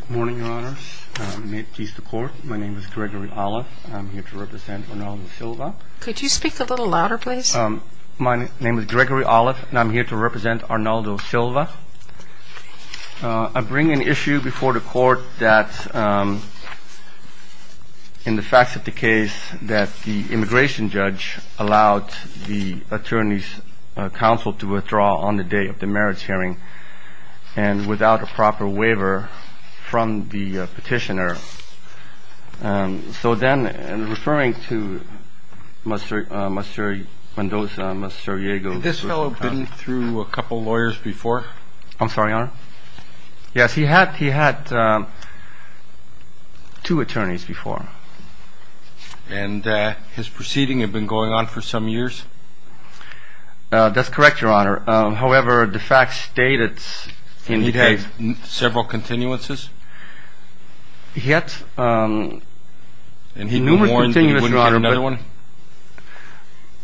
Good morning, Your Honors. May it please the Court, my name is Gregory Olive, and I'm here to represent Arnaldo Silva. Could you speak a little louder, please? My name is Gregory Olive, and I'm here to represent Arnaldo Silva. I bring an issue before the Court that, in the facts of the case, that the immigration judge allowed the attorney's counsel to withdraw on the day of the merits hearing, and without a proper waiver from the petitioner. So then, referring to Mr. Mendoza, Mr. Iago... Had this fellow been through a couple lawyers before? I'm sorry, Your Honor? Yes, he had two attorneys before. And his proceeding had been going on for some years? That's correct, Your Honor. However, the facts stated in the case... He had several continuances? He had numerous continuances, Your Honor. And he wouldn't get another one?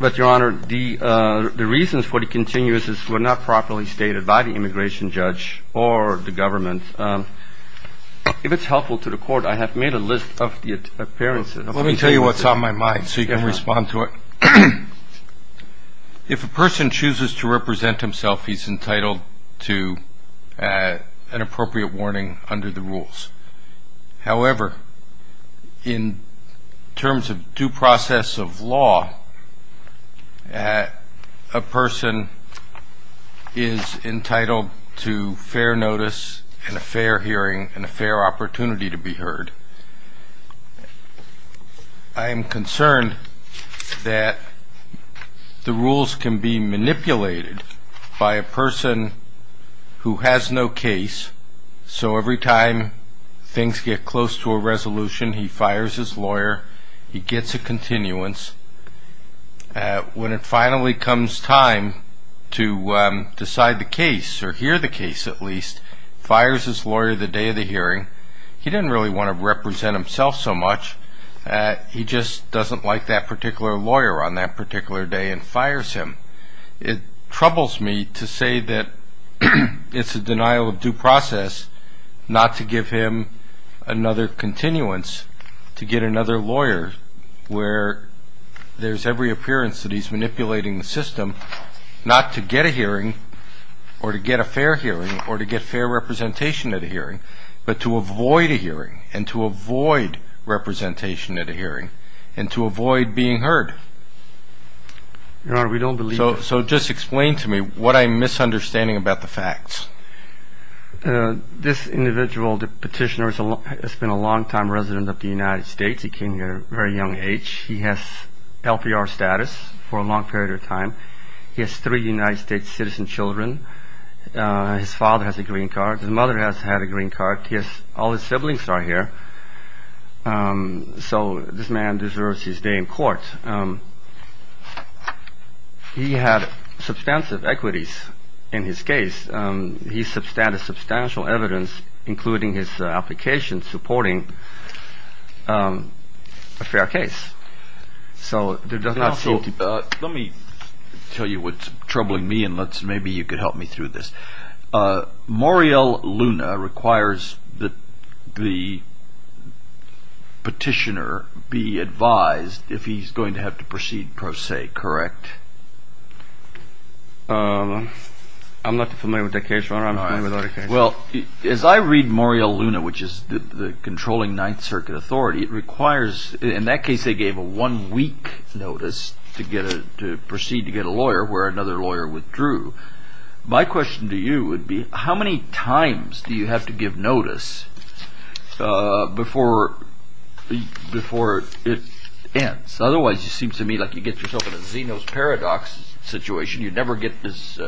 But, Your Honor, the reasons for the continuances were not properly stated by the immigration judge or the government. If it's helpful to the Court, I have made a list of the appearances. Let me tell you what's on my mind so you can respond to it. If a person chooses to represent himself, he's entitled to an appropriate warning under the rules. However, in terms of due process of law, a person is entitled to fair notice and a fair hearing and a fair opportunity to be heard. I am concerned that the rules can be manipulated by a person who has no case, so every time things get close to a resolution, he fires his lawyer, he gets a continuance, when it finally comes time to decide the case, or hear the case at least, fires his lawyer the day of the hearing. He didn't really want to represent himself so much. He just doesn't like that particular lawyer on that particular day and fires him. It troubles me to say that it's a denial of due process not to give him another continuance, to get another lawyer where there's every appearance that he's manipulating the system, not to get a hearing or to get a fair hearing or to get fair representation at a hearing, but to avoid a hearing and to avoid representation at a hearing and to avoid being heard. So just explain to me what I'm misunderstanding about the facts. This individual, the petitioner, has been a long time resident of the United States. He came here at a very young age. He has LPR status for a long period of time. He has three United States citizen children. His father has a green card. His mother has had a green card. All his siblings are here, so this man deserves his day in court. He had substantive equities in his case. He has substantial evidence, including his application, supporting a fair case. Let me tell you what's troubling me and maybe you could help me through this. Mauriel Luna requires that the petitioner be advised if he's going to have to proceed pro se, correct? I'm not familiar with that case, Your Honor. As I read Mauriel Luna, which is the controlling Ninth Circuit authority, it requires, in that case they gave a one-week notice to proceed to get a lawyer where another lawyer withdrew. My question to you would be, how many times do you have to give notice before it ends? Otherwise, it seems to me like you get yourself in a Zeno's paradox situation. You never get, as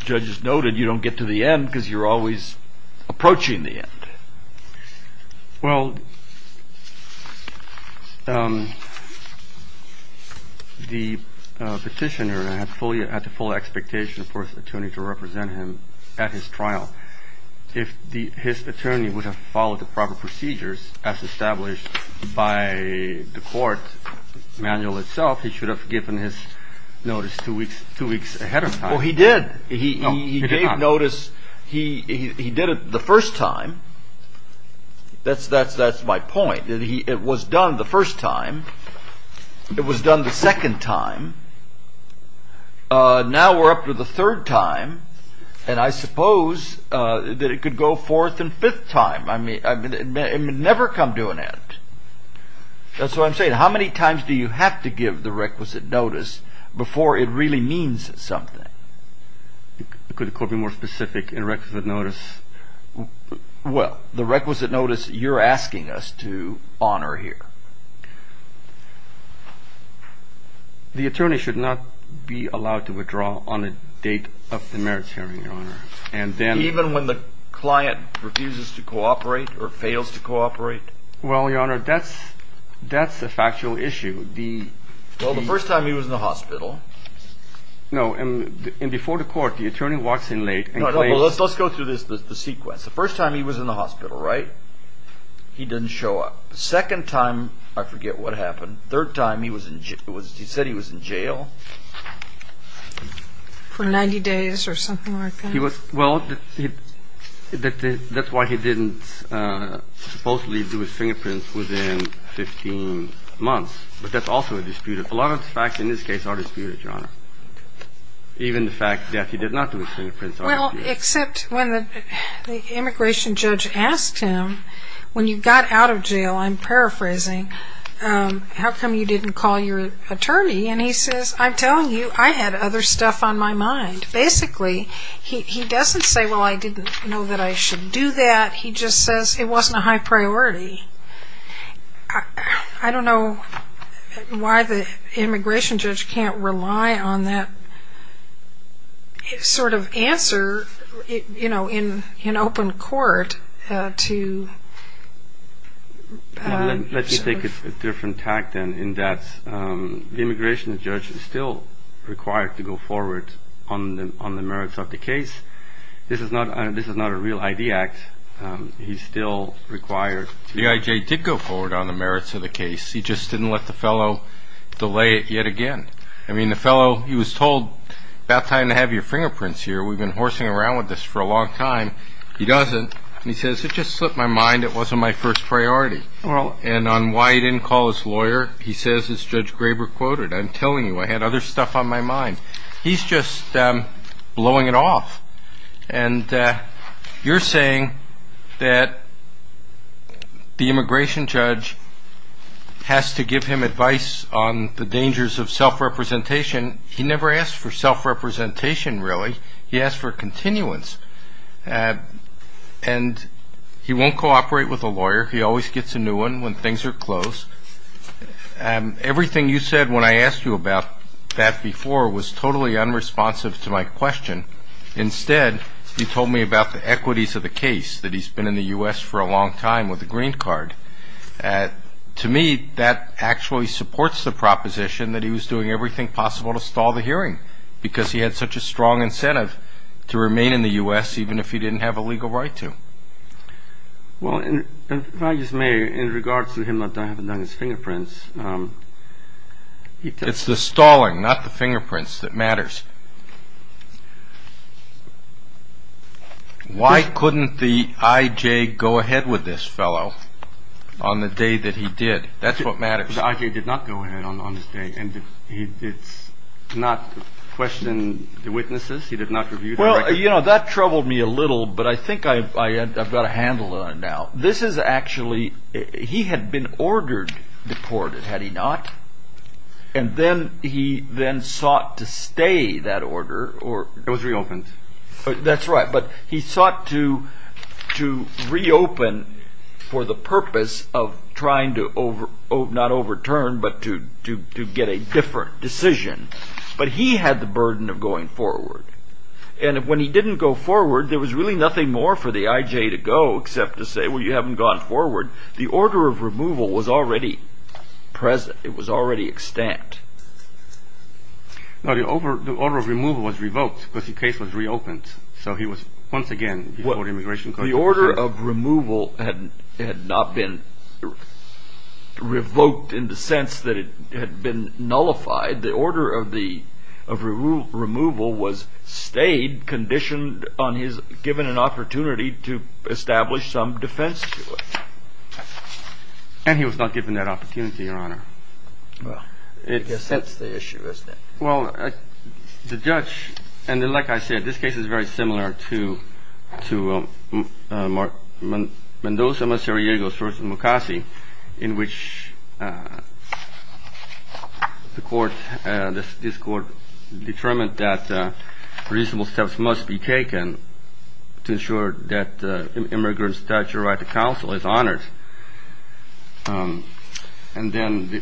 judges noted, you don't get to the end because you're always approaching the end. Well, the petitioner had the full expectation for his attorney to represent him at his trial. If his attorney would have followed the proper procedures as established by the court manual itself, he should have given his notice two weeks ahead of time. Well, he did. He gave notice. He did it the first time. That's my point. It was done the first time. It was done the second time. Now we're up to the third time, and I suppose that it could go fourth and fifth time. That's what I'm saying. How many times do you have to give the requisite notice before it really means something? Could the court be more specific in requisite notice? Well, the requisite notice you're asking us to honor here. The attorney should not be allowed to withdraw on a date of the merits hearing, Your Honor. Even when the client refuses to cooperate or fails to cooperate? Well, Your Honor, that's a factual issue. Well, the first time he was in the hospital. No, and before the court, the attorney walks in late. Let's go through the sequence. The first time he was in the hospital, right? He didn't show up. Second time, I forget what happened. Third time, he said he was in jail. For 90 days or something like that? Well, that's why he didn't supposedly do his fingerprints within 15 months. But that's also a dispute. A lot of the facts in this case are disputed, Your Honor. Even the fact that he did not do his fingerprints are disputed. Well, except when the immigration judge asked him, when you got out of jail, I'm paraphrasing, how come you didn't call your attorney? And he says, I'm telling you, I had other stuff on my mind. Basically, he doesn't say, well, I didn't know that I should do that. He just says it wasn't a high priority. I don't know why the immigration judge can't rely on that sort of answer, you know, in open court to... Let me take a different tack, then, in that the immigration judge is still required to go forward on the merits of the case. This is not a real ID act. He's still required. The IJ did go forward on the merits of the case. He just didn't let the fellow delay it yet again. I mean, the fellow, he was told, about time to have your fingerprints here. We've been horsing around with this for a long time. He doesn't. He says, it just slipped my mind. It wasn't my first priority. And on why he didn't call his lawyer, he says, as Judge Graber quoted, I'm telling you, I had other stuff on my mind. He's just blowing it off. And you're saying that the immigration judge has to give him advice on the dangers of self-representation. He never asked for self-representation, really. He asked for continuance. And he won't cooperate with a lawyer. He always gets a new one when things are closed. Everything you said when I asked you about that before was totally unresponsive to my question. Instead, you told me about the equities of the case, that he's been in the U.S. for a long time with a green card. To me, that actually supports the proposition that he was doing everything possible to stall the hearing because he had such a strong incentive to remain in the U.S. even if he didn't have a legal right to. Well, if I may, in regards to him not having his fingerprints. It's the stalling, not the fingerprints, that matters. Why couldn't the I.J. go ahead with this fellow on the day that he did? That's what matters. The I.J. did not go ahead on this day. He did not question the witnesses. He did not review the record. Well, that troubled me a little, but I think I've got a handle on it now. This is actually, he had been ordered deported, had he not? And then he then sought to stay that order. It was reopened. That's right, but he sought to reopen for the purpose of trying to, not overturn, but to get a different decision. But he had the burden of going forward. And when he didn't go forward, there was really nothing more for the I.J. to go except to say, well, you haven't gone forward. The order of removal was already present. It was already extant. The order of removal was revoked because the case was reopened. The order of removal had not been revoked in the sense that it had been nullified. The order of removal was stayed, conditioned on his given an opportunity to establish some defense to it. And he was not given that opportunity, Your Honor. Well, I guess that's the issue, isn't it? Well, the judge, and like I said, this case is very similar to Mendoza-Masiriegos v. Mukasey, in which this court determined that reasonable steps must be taken to ensure that immigrants' statutory right to counsel is honored. And then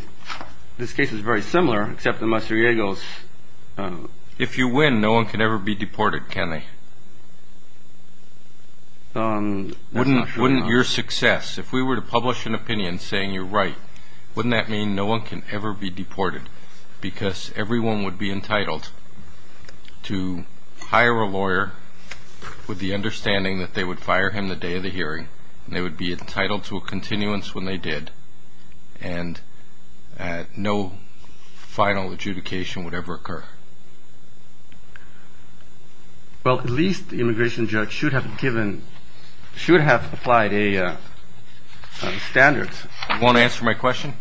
this case is very similar, except the Masiriegos, if you win, no one can ever be deported, can they? Wouldn't your success, if we were to publish an opinion saying you're right, wouldn't that mean no one can ever be deported? Because everyone would be entitled to hire a lawyer with the understanding that they would fire him the day of the hearing, and they would be entitled to a continuance when they did, and no final adjudication would ever occur. Well, at least the immigration judge should have given, should have applied a standard. You want to answer my question?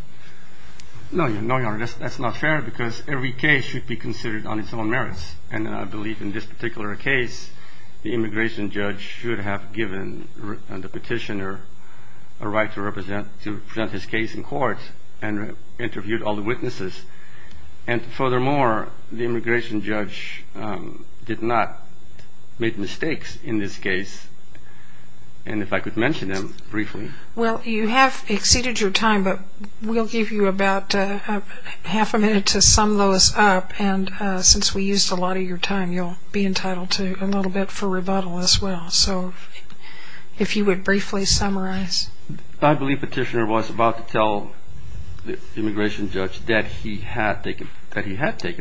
No, Your Honor, that's not fair, because every case should be considered on its own merits. And I believe in this particular case, the immigration judge should have given the petitioner a right to present his case in court and interviewed all the witnesses. And furthermore, the immigration judge did not make mistakes in this case, and if I could mention them briefly. Well, you have exceeded your time, but we'll give you about half a minute to sum those up, and since we used a lot of your time, you'll be entitled to a little bit for rebuttal as well. So if you would briefly summarize. I believe the petitioner was about to tell the immigration judge that he had taken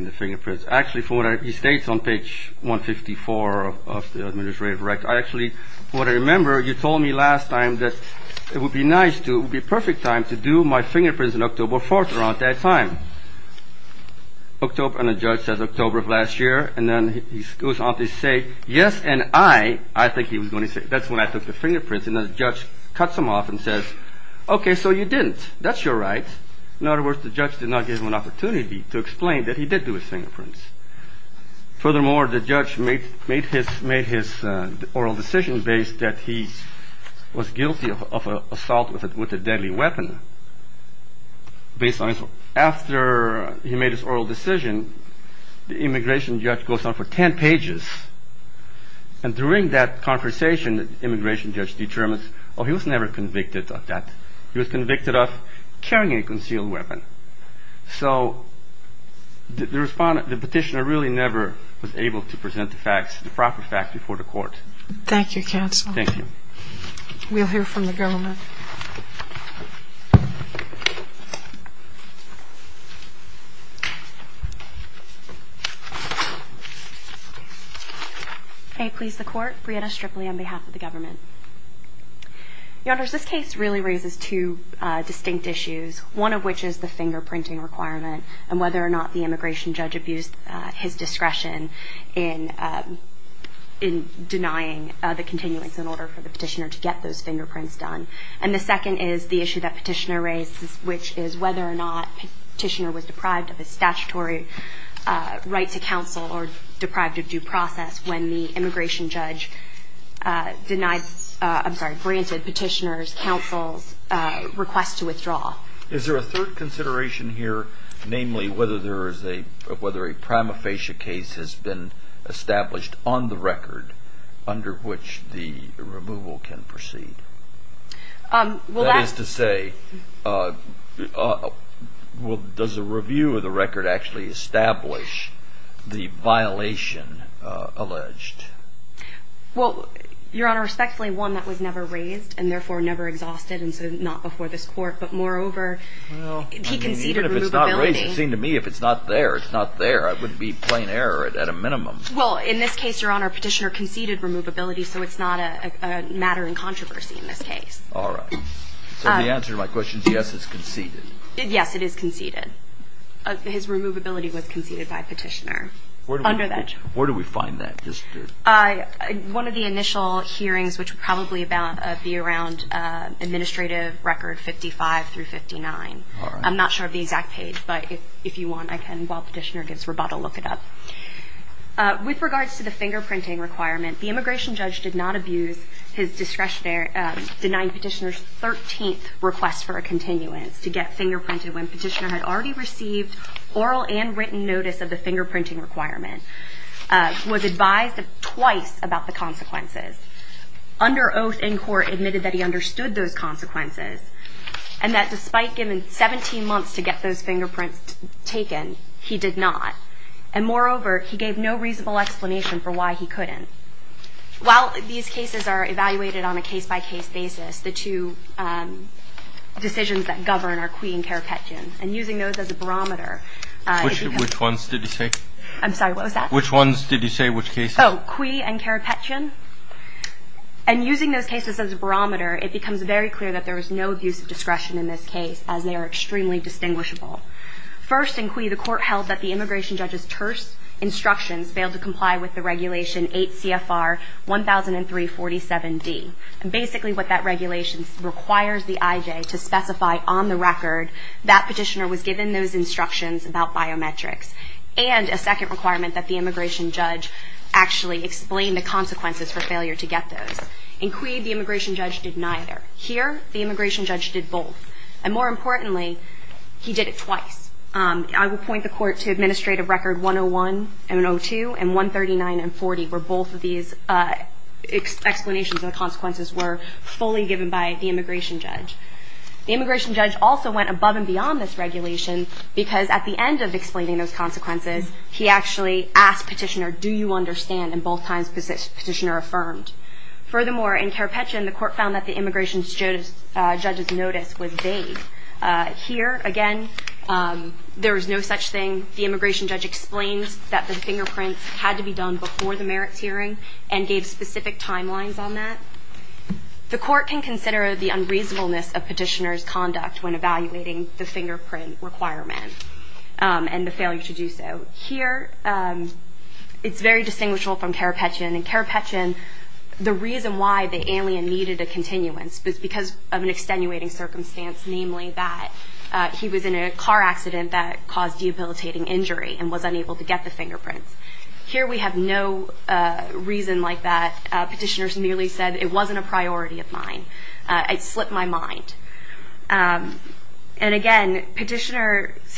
the fingerprints. Actually, from what he states on page 154 of the administrative record, I actually, what I remember, you told me last time that it would be nice to, it would be a perfect time to do my fingerprints in October 4th around that time. October, and the judge says October of last year, and then he goes on to say, yes, and I, I think he was going to say, that's when I took the fingerprints, and the judge cuts him off and says, okay, so you didn't, that's your right. In other words, the judge did not give him an opportunity to explain that he did do his fingerprints. Furthermore, the judge made his oral decision based that he was guilty of assault with a deadly weapon. After he made his oral decision, the immigration judge goes on for 10 pages, and during that conversation, the immigration judge determines, oh, he was never convicted of that. He was convicted of carrying a concealed weapon. So the petitioner really never was We'll hear from the government. May it please the court, Brianna Stripley on behalf of the government. Your honors, this case really raises two distinct issues, one of which is the fingerprinting requirement, and whether or not the immigration judge abused his discretion in denying the continuance in order for the petitioner to get those fingerprints done. And the second is the issue that petitioner raised, which is whether or not petitioner was deprived of his statutory right to counsel or deprived of due process when the immigration judge denied, I'm sorry, granted petitioner's counsel's request to withdraw. Is there a third consideration here, namely whether there is a violation under which the removal can proceed? That is to say, does a review of the record actually establish the violation alleged? Well, your honor, respectfully, one that was never raised, and therefore never exhausted, and so not before this court. But moreover, he conceded removability. Well, in this case, your honor, petitioner conceded removability, so it's not a matter in controversy in this case. All right. So the answer to my question is yes, it's conceded. Yes, it is conceded. His removability was conceded by petitioner. Where do we find that? One of the initial hearings, which would probably be around administrative record 55 through 59. I'm not sure of the exact page, but if you want, I can, while petitioner gives rebuttal, look it up. With regards to the fingerprinting requirement, the immigration judge did not abuse his discretionary, denied petitioner's 13th request for a continuance to get fingerprinted when petitioner had already received oral and written notice of the fingerprinting requirement, was advised twice about the consequences, under oath in court admitted that he understood those consequences, and that despite giving 17 months to get those fingerprints taken, he did not. And moreover, he gave no reasonable explanation for why he couldn't. While these cases are evaluated on a case-by-case basis, the two decisions that govern are Cui and Carapetian, and using those as a barometer. Which ones did you say? I'm sorry, what was that? Which ones did you say, which cases? Oh, Cui and Carapetian. And using those cases as a barometer, it becomes very clear that there was no abuse of discretion in this case, as they are extremely distinguishable. First, in Cui, the court held that the immigration judge's terse instructions failed to comply with the regulation 8 CFR 1003-47D. And basically what that regulation requires the IJ to specify on the record that petitioner was given those instructions about biometrics. And a second requirement that the immigration judge actually explain the consequences for failure to get those. In Cui, the immigration judge did neither. Here, the immigration judge did both. And more importantly, he did it twice. I will point the court to that explanation of the consequences were fully given by the immigration judge. The immigration judge also went above and beyond this regulation, because at the end of explaining those consequences, he actually asked petitioner, do you understand? And both times, petitioner affirmed. Furthermore, in Carapetian, the court found that the immigration judge's notice was vague. Here, again, there was no such thing. The court can consider the unreasonableness of petitioner's conduct when evaluating the fingerprint requirement and the failure to do so. Here, it's very distinguishable from Carapetian. In Carapetian, the reason why the alien needed a continuance was because of an extenuating circumstance, namely that he was in a car accident that caused debilitating injury and was unable to get the fingerprint. Petitioner merely said it wasn't a priority of mine. It slipped my mind. And again, petitioner's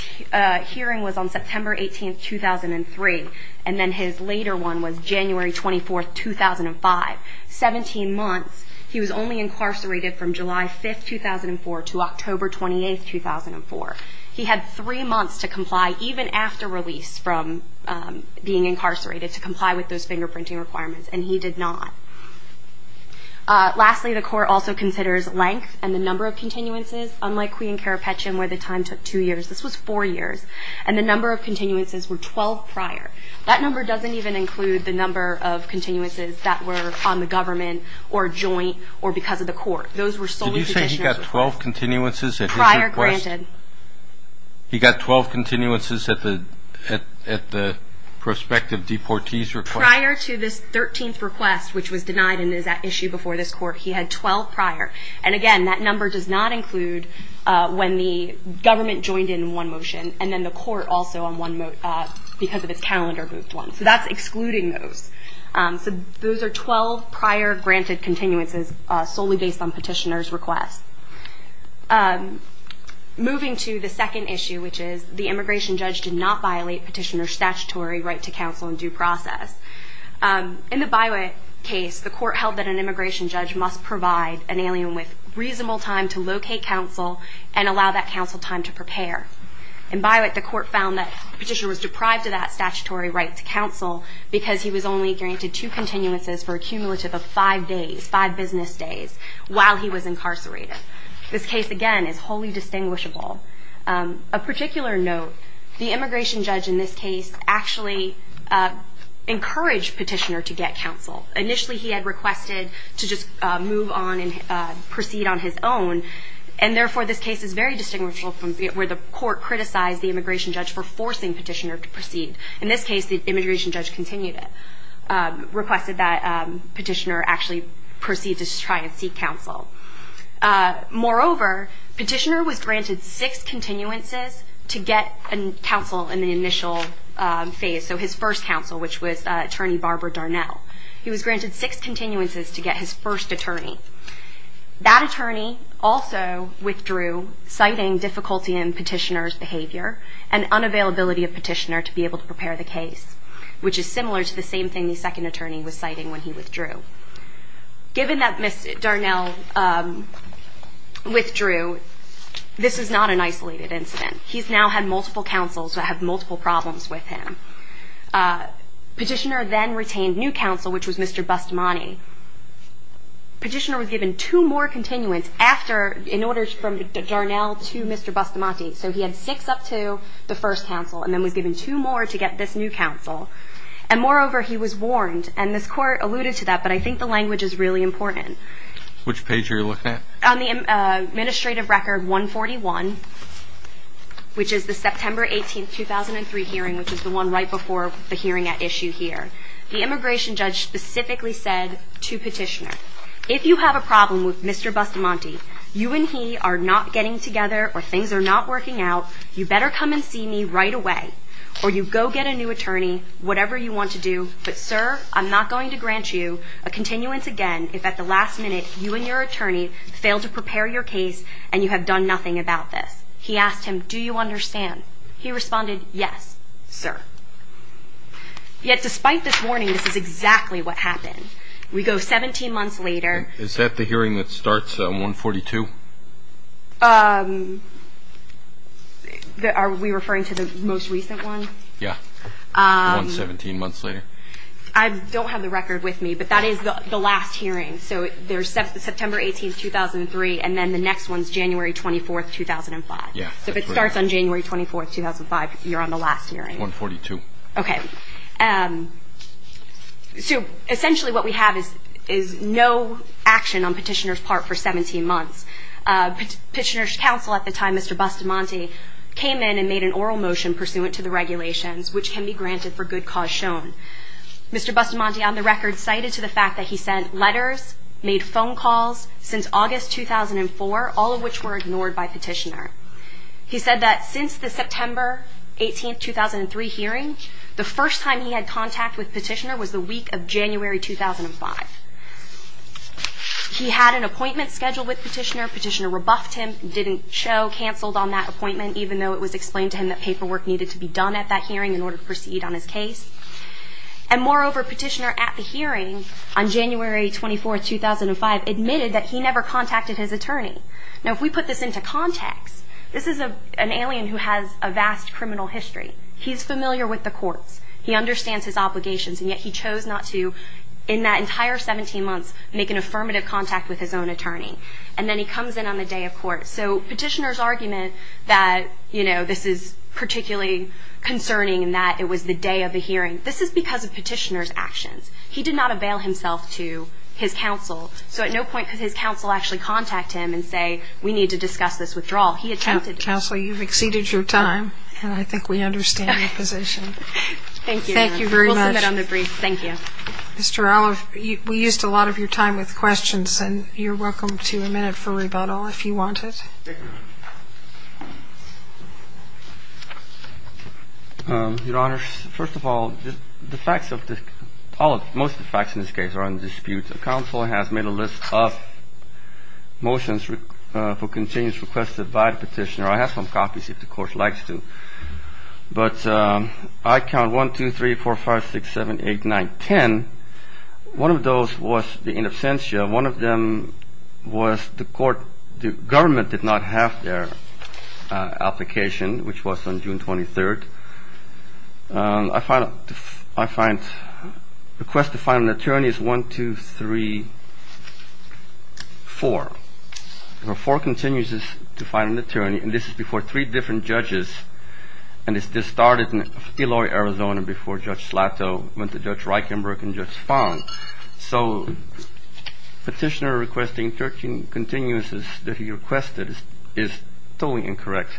hearing was on September 18, 2003. And then his later one was January 24, 2005. 17 months, he was only incarcerated from July 5, 2004 to October 28, 2004. He had three months to comply, even after release from being incarcerated, to comply with those fingerprinting requirements. And he did not. Lastly, the court also considers length and the number of continuances. Unlike Queen Carapetian, where the time took two years, this was four years. And the number of continuances were 12 prior. That number doesn't even include the number of continuances that were on the government or joint or because of the court. Those were solely petitioner's requests. He got 12 continuances at his request? Prior, granted. He got 12 continuances at the prospective deportee's request? Prior to this 13th request, which was denied and is at issue before this court, he had 12 prior. And again, that number does not include when the government joined in one motion and then the court also on one, because of its calendar moved one. So that's excluding those. So those are 12 prior granted continuances solely based on petitioner's requests. Moving to the second issue, which is the immigration judge did not violate petitioner's statutory right to counsel in due process. In the Biowet case, the court held that an immigration judge must provide an alien with reasonable time to locate counsel and allow that counsel time to prepare. In Biowet, the court found that petitioner was deprived of that statutory right to counsel because he was only granted two continuances for a cumulative of five days, five business days, while he was incarcerated. This case, again, is wholly distinguishable. A particular note, the immigration judge in this case actually encouraged petitioner to get counsel. Initially he had requested to just move on and proceed on his own, and therefore this case is very distinguishable from where the court criticized the immigration judge for forcing petitioner to proceed. In this case, the immigration judge continued it, requested that petitioner actually proceed to try and seek counsel. Moreover, petitioner was granted six continuances to get counsel in the initial phase, so his first counsel, which was attorney Barbara Darnell. He was granted six continuances to get his first attorney. That attorney also withdrew, citing difficulty in petitioner's behavior and unavailability of petitioner to be able to prepare the case, which is similar to the same thing the second attorney was citing when he withdrew. Given that Ms. Darnell withdrew, this is not an isolated incident. He's now had multiple counsels that have multiple problems with him. Petitioner then retained new counsel, which was Mr. Bustamante. Petitioner was given two more continuance after, in order from Darnell to Mr. Bustamante. So he had six up to the first counsel, and then was given two more to get this new counsel. And moreover, he was warned, and this court alluded to that, but I think the language is really important. Which page are you looking at? On the administrative record 141, which is the September 18, 2003 hearing, which is the one right before the hearing at issue here. The immigration judge specifically said to petitioner, if you have a problem with Mr. Bustamante, you and he are not getting together, or things are not working out, you better come and see me right away, or you go get a new attorney, whatever you want to do. But sir, I'm not going to grant you a continuance again if at the last minute you and your attorney fail to prepare your case and you have done nothing about this. He asked him, do you understand? He responded, yes, sir. Yet despite this warning, this is exactly what happened. We go 17 months later. Is that the hearing that starts 142? Are we referring to the most recent one? Yeah. 117 months later. I don't have the record with me, but that is the last hearing. So there's September 18, 2003, and then the next one is January 24, 2005. So if it starts on January 24, 2005, you're on the last hearing. 142. Okay. So essentially what we have is no action on Petitioner's part for 17 months. Petitioner's counsel at the time, Mr. Bustamante, came in and made an oral motion pursuant to the regulations, which can be granted for good cause shown. Mr. Bustamante, on the record, cited to the fact that he sent letters, made phone calls since August 2004, all of which were ignored by Petitioner. He said that since the September 18, 2003 hearing, the first time he had contact with Petitioner was the week of January 2005. He had an appointment scheduled with Petitioner. Petitioner rebuffed him, didn't show, canceled on that appointment, even though it was explained to him that paperwork needed to be done at that hearing in order to proceed on his case. And moreover, Petitioner, at the hearing on January 24, 2005, admitted that he never contacted his attorney. Now, if we put this into context, this is an alien who has a vast criminal history. He's familiar with the courts. He understands his obligations, and yet he chose not to, in that entire 17 months, make an affirmative contact with his own attorney. And then he comes in on the day of court. So Petitioner's argument that this is particularly concerning and that it was the day of the hearing, this is because of Petitioner's actions. He did not avail himself to his counsel actually contact him and say, we need to discuss this withdrawal. He attempted to. Counsel, you've exceeded your time, and I think we understand your position. Thank you, Your Honor. Thank you very much. We'll submit on the brief. Thank you. Mr. Olive, we used a lot of your time with questions, and you're welcome to a minute for rebuttal, if you want it. Your Honor, first of all, the facts of this policy, most of the facts in this case are undisputed. Counsel has made a list of motions for contingency requested by Petitioner. I have some copies if the Court likes to. But I count 1, 2, 3, 4, 5, 6, 7, 8, 9, 10. One of those was the in absentia. One of them was the court, the government did not have their application, which was on June 23rd. I find the request to find an attorney is 1, 2, 3, 4. Four contingencies to find an attorney, and this is before three different judges. And this started in Deloitte, Arizona before Judge Slato went to Judge Reichenberg and Judge Fong. So Petitioner requesting 13 contingencies that he requested is totally incorrect.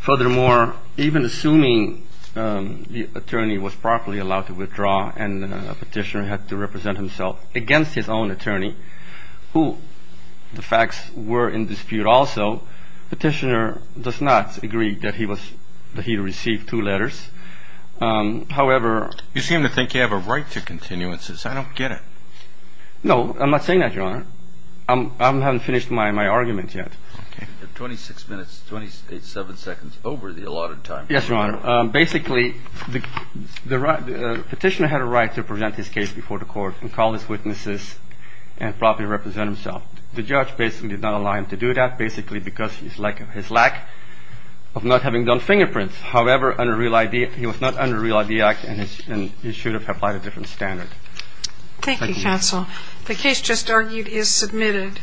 Furthermore, even assuming the attorney was properly allowed to withdraw and Petitioner had to represent himself against his own attorney, who the facts were in dispute also, Petitioner does not agree that he received two letters. However... You seem to think you have a right to contingencies. I don't get it. No, I'm not saying that, Your Honor. I haven't finished my argument yet. You have 26 minutes, 27 seconds over the allotted time. Yes, Your Honor. Basically, Petitioner had a right to present his case before the court and call his witnesses and properly represent himself. The judge basically did not allow him to do that, basically because of his lack of not having done fingerprints. However, he was not under Real ID Act and he should have applied a different standard. Thank you, counsel. The case just argued is submitted.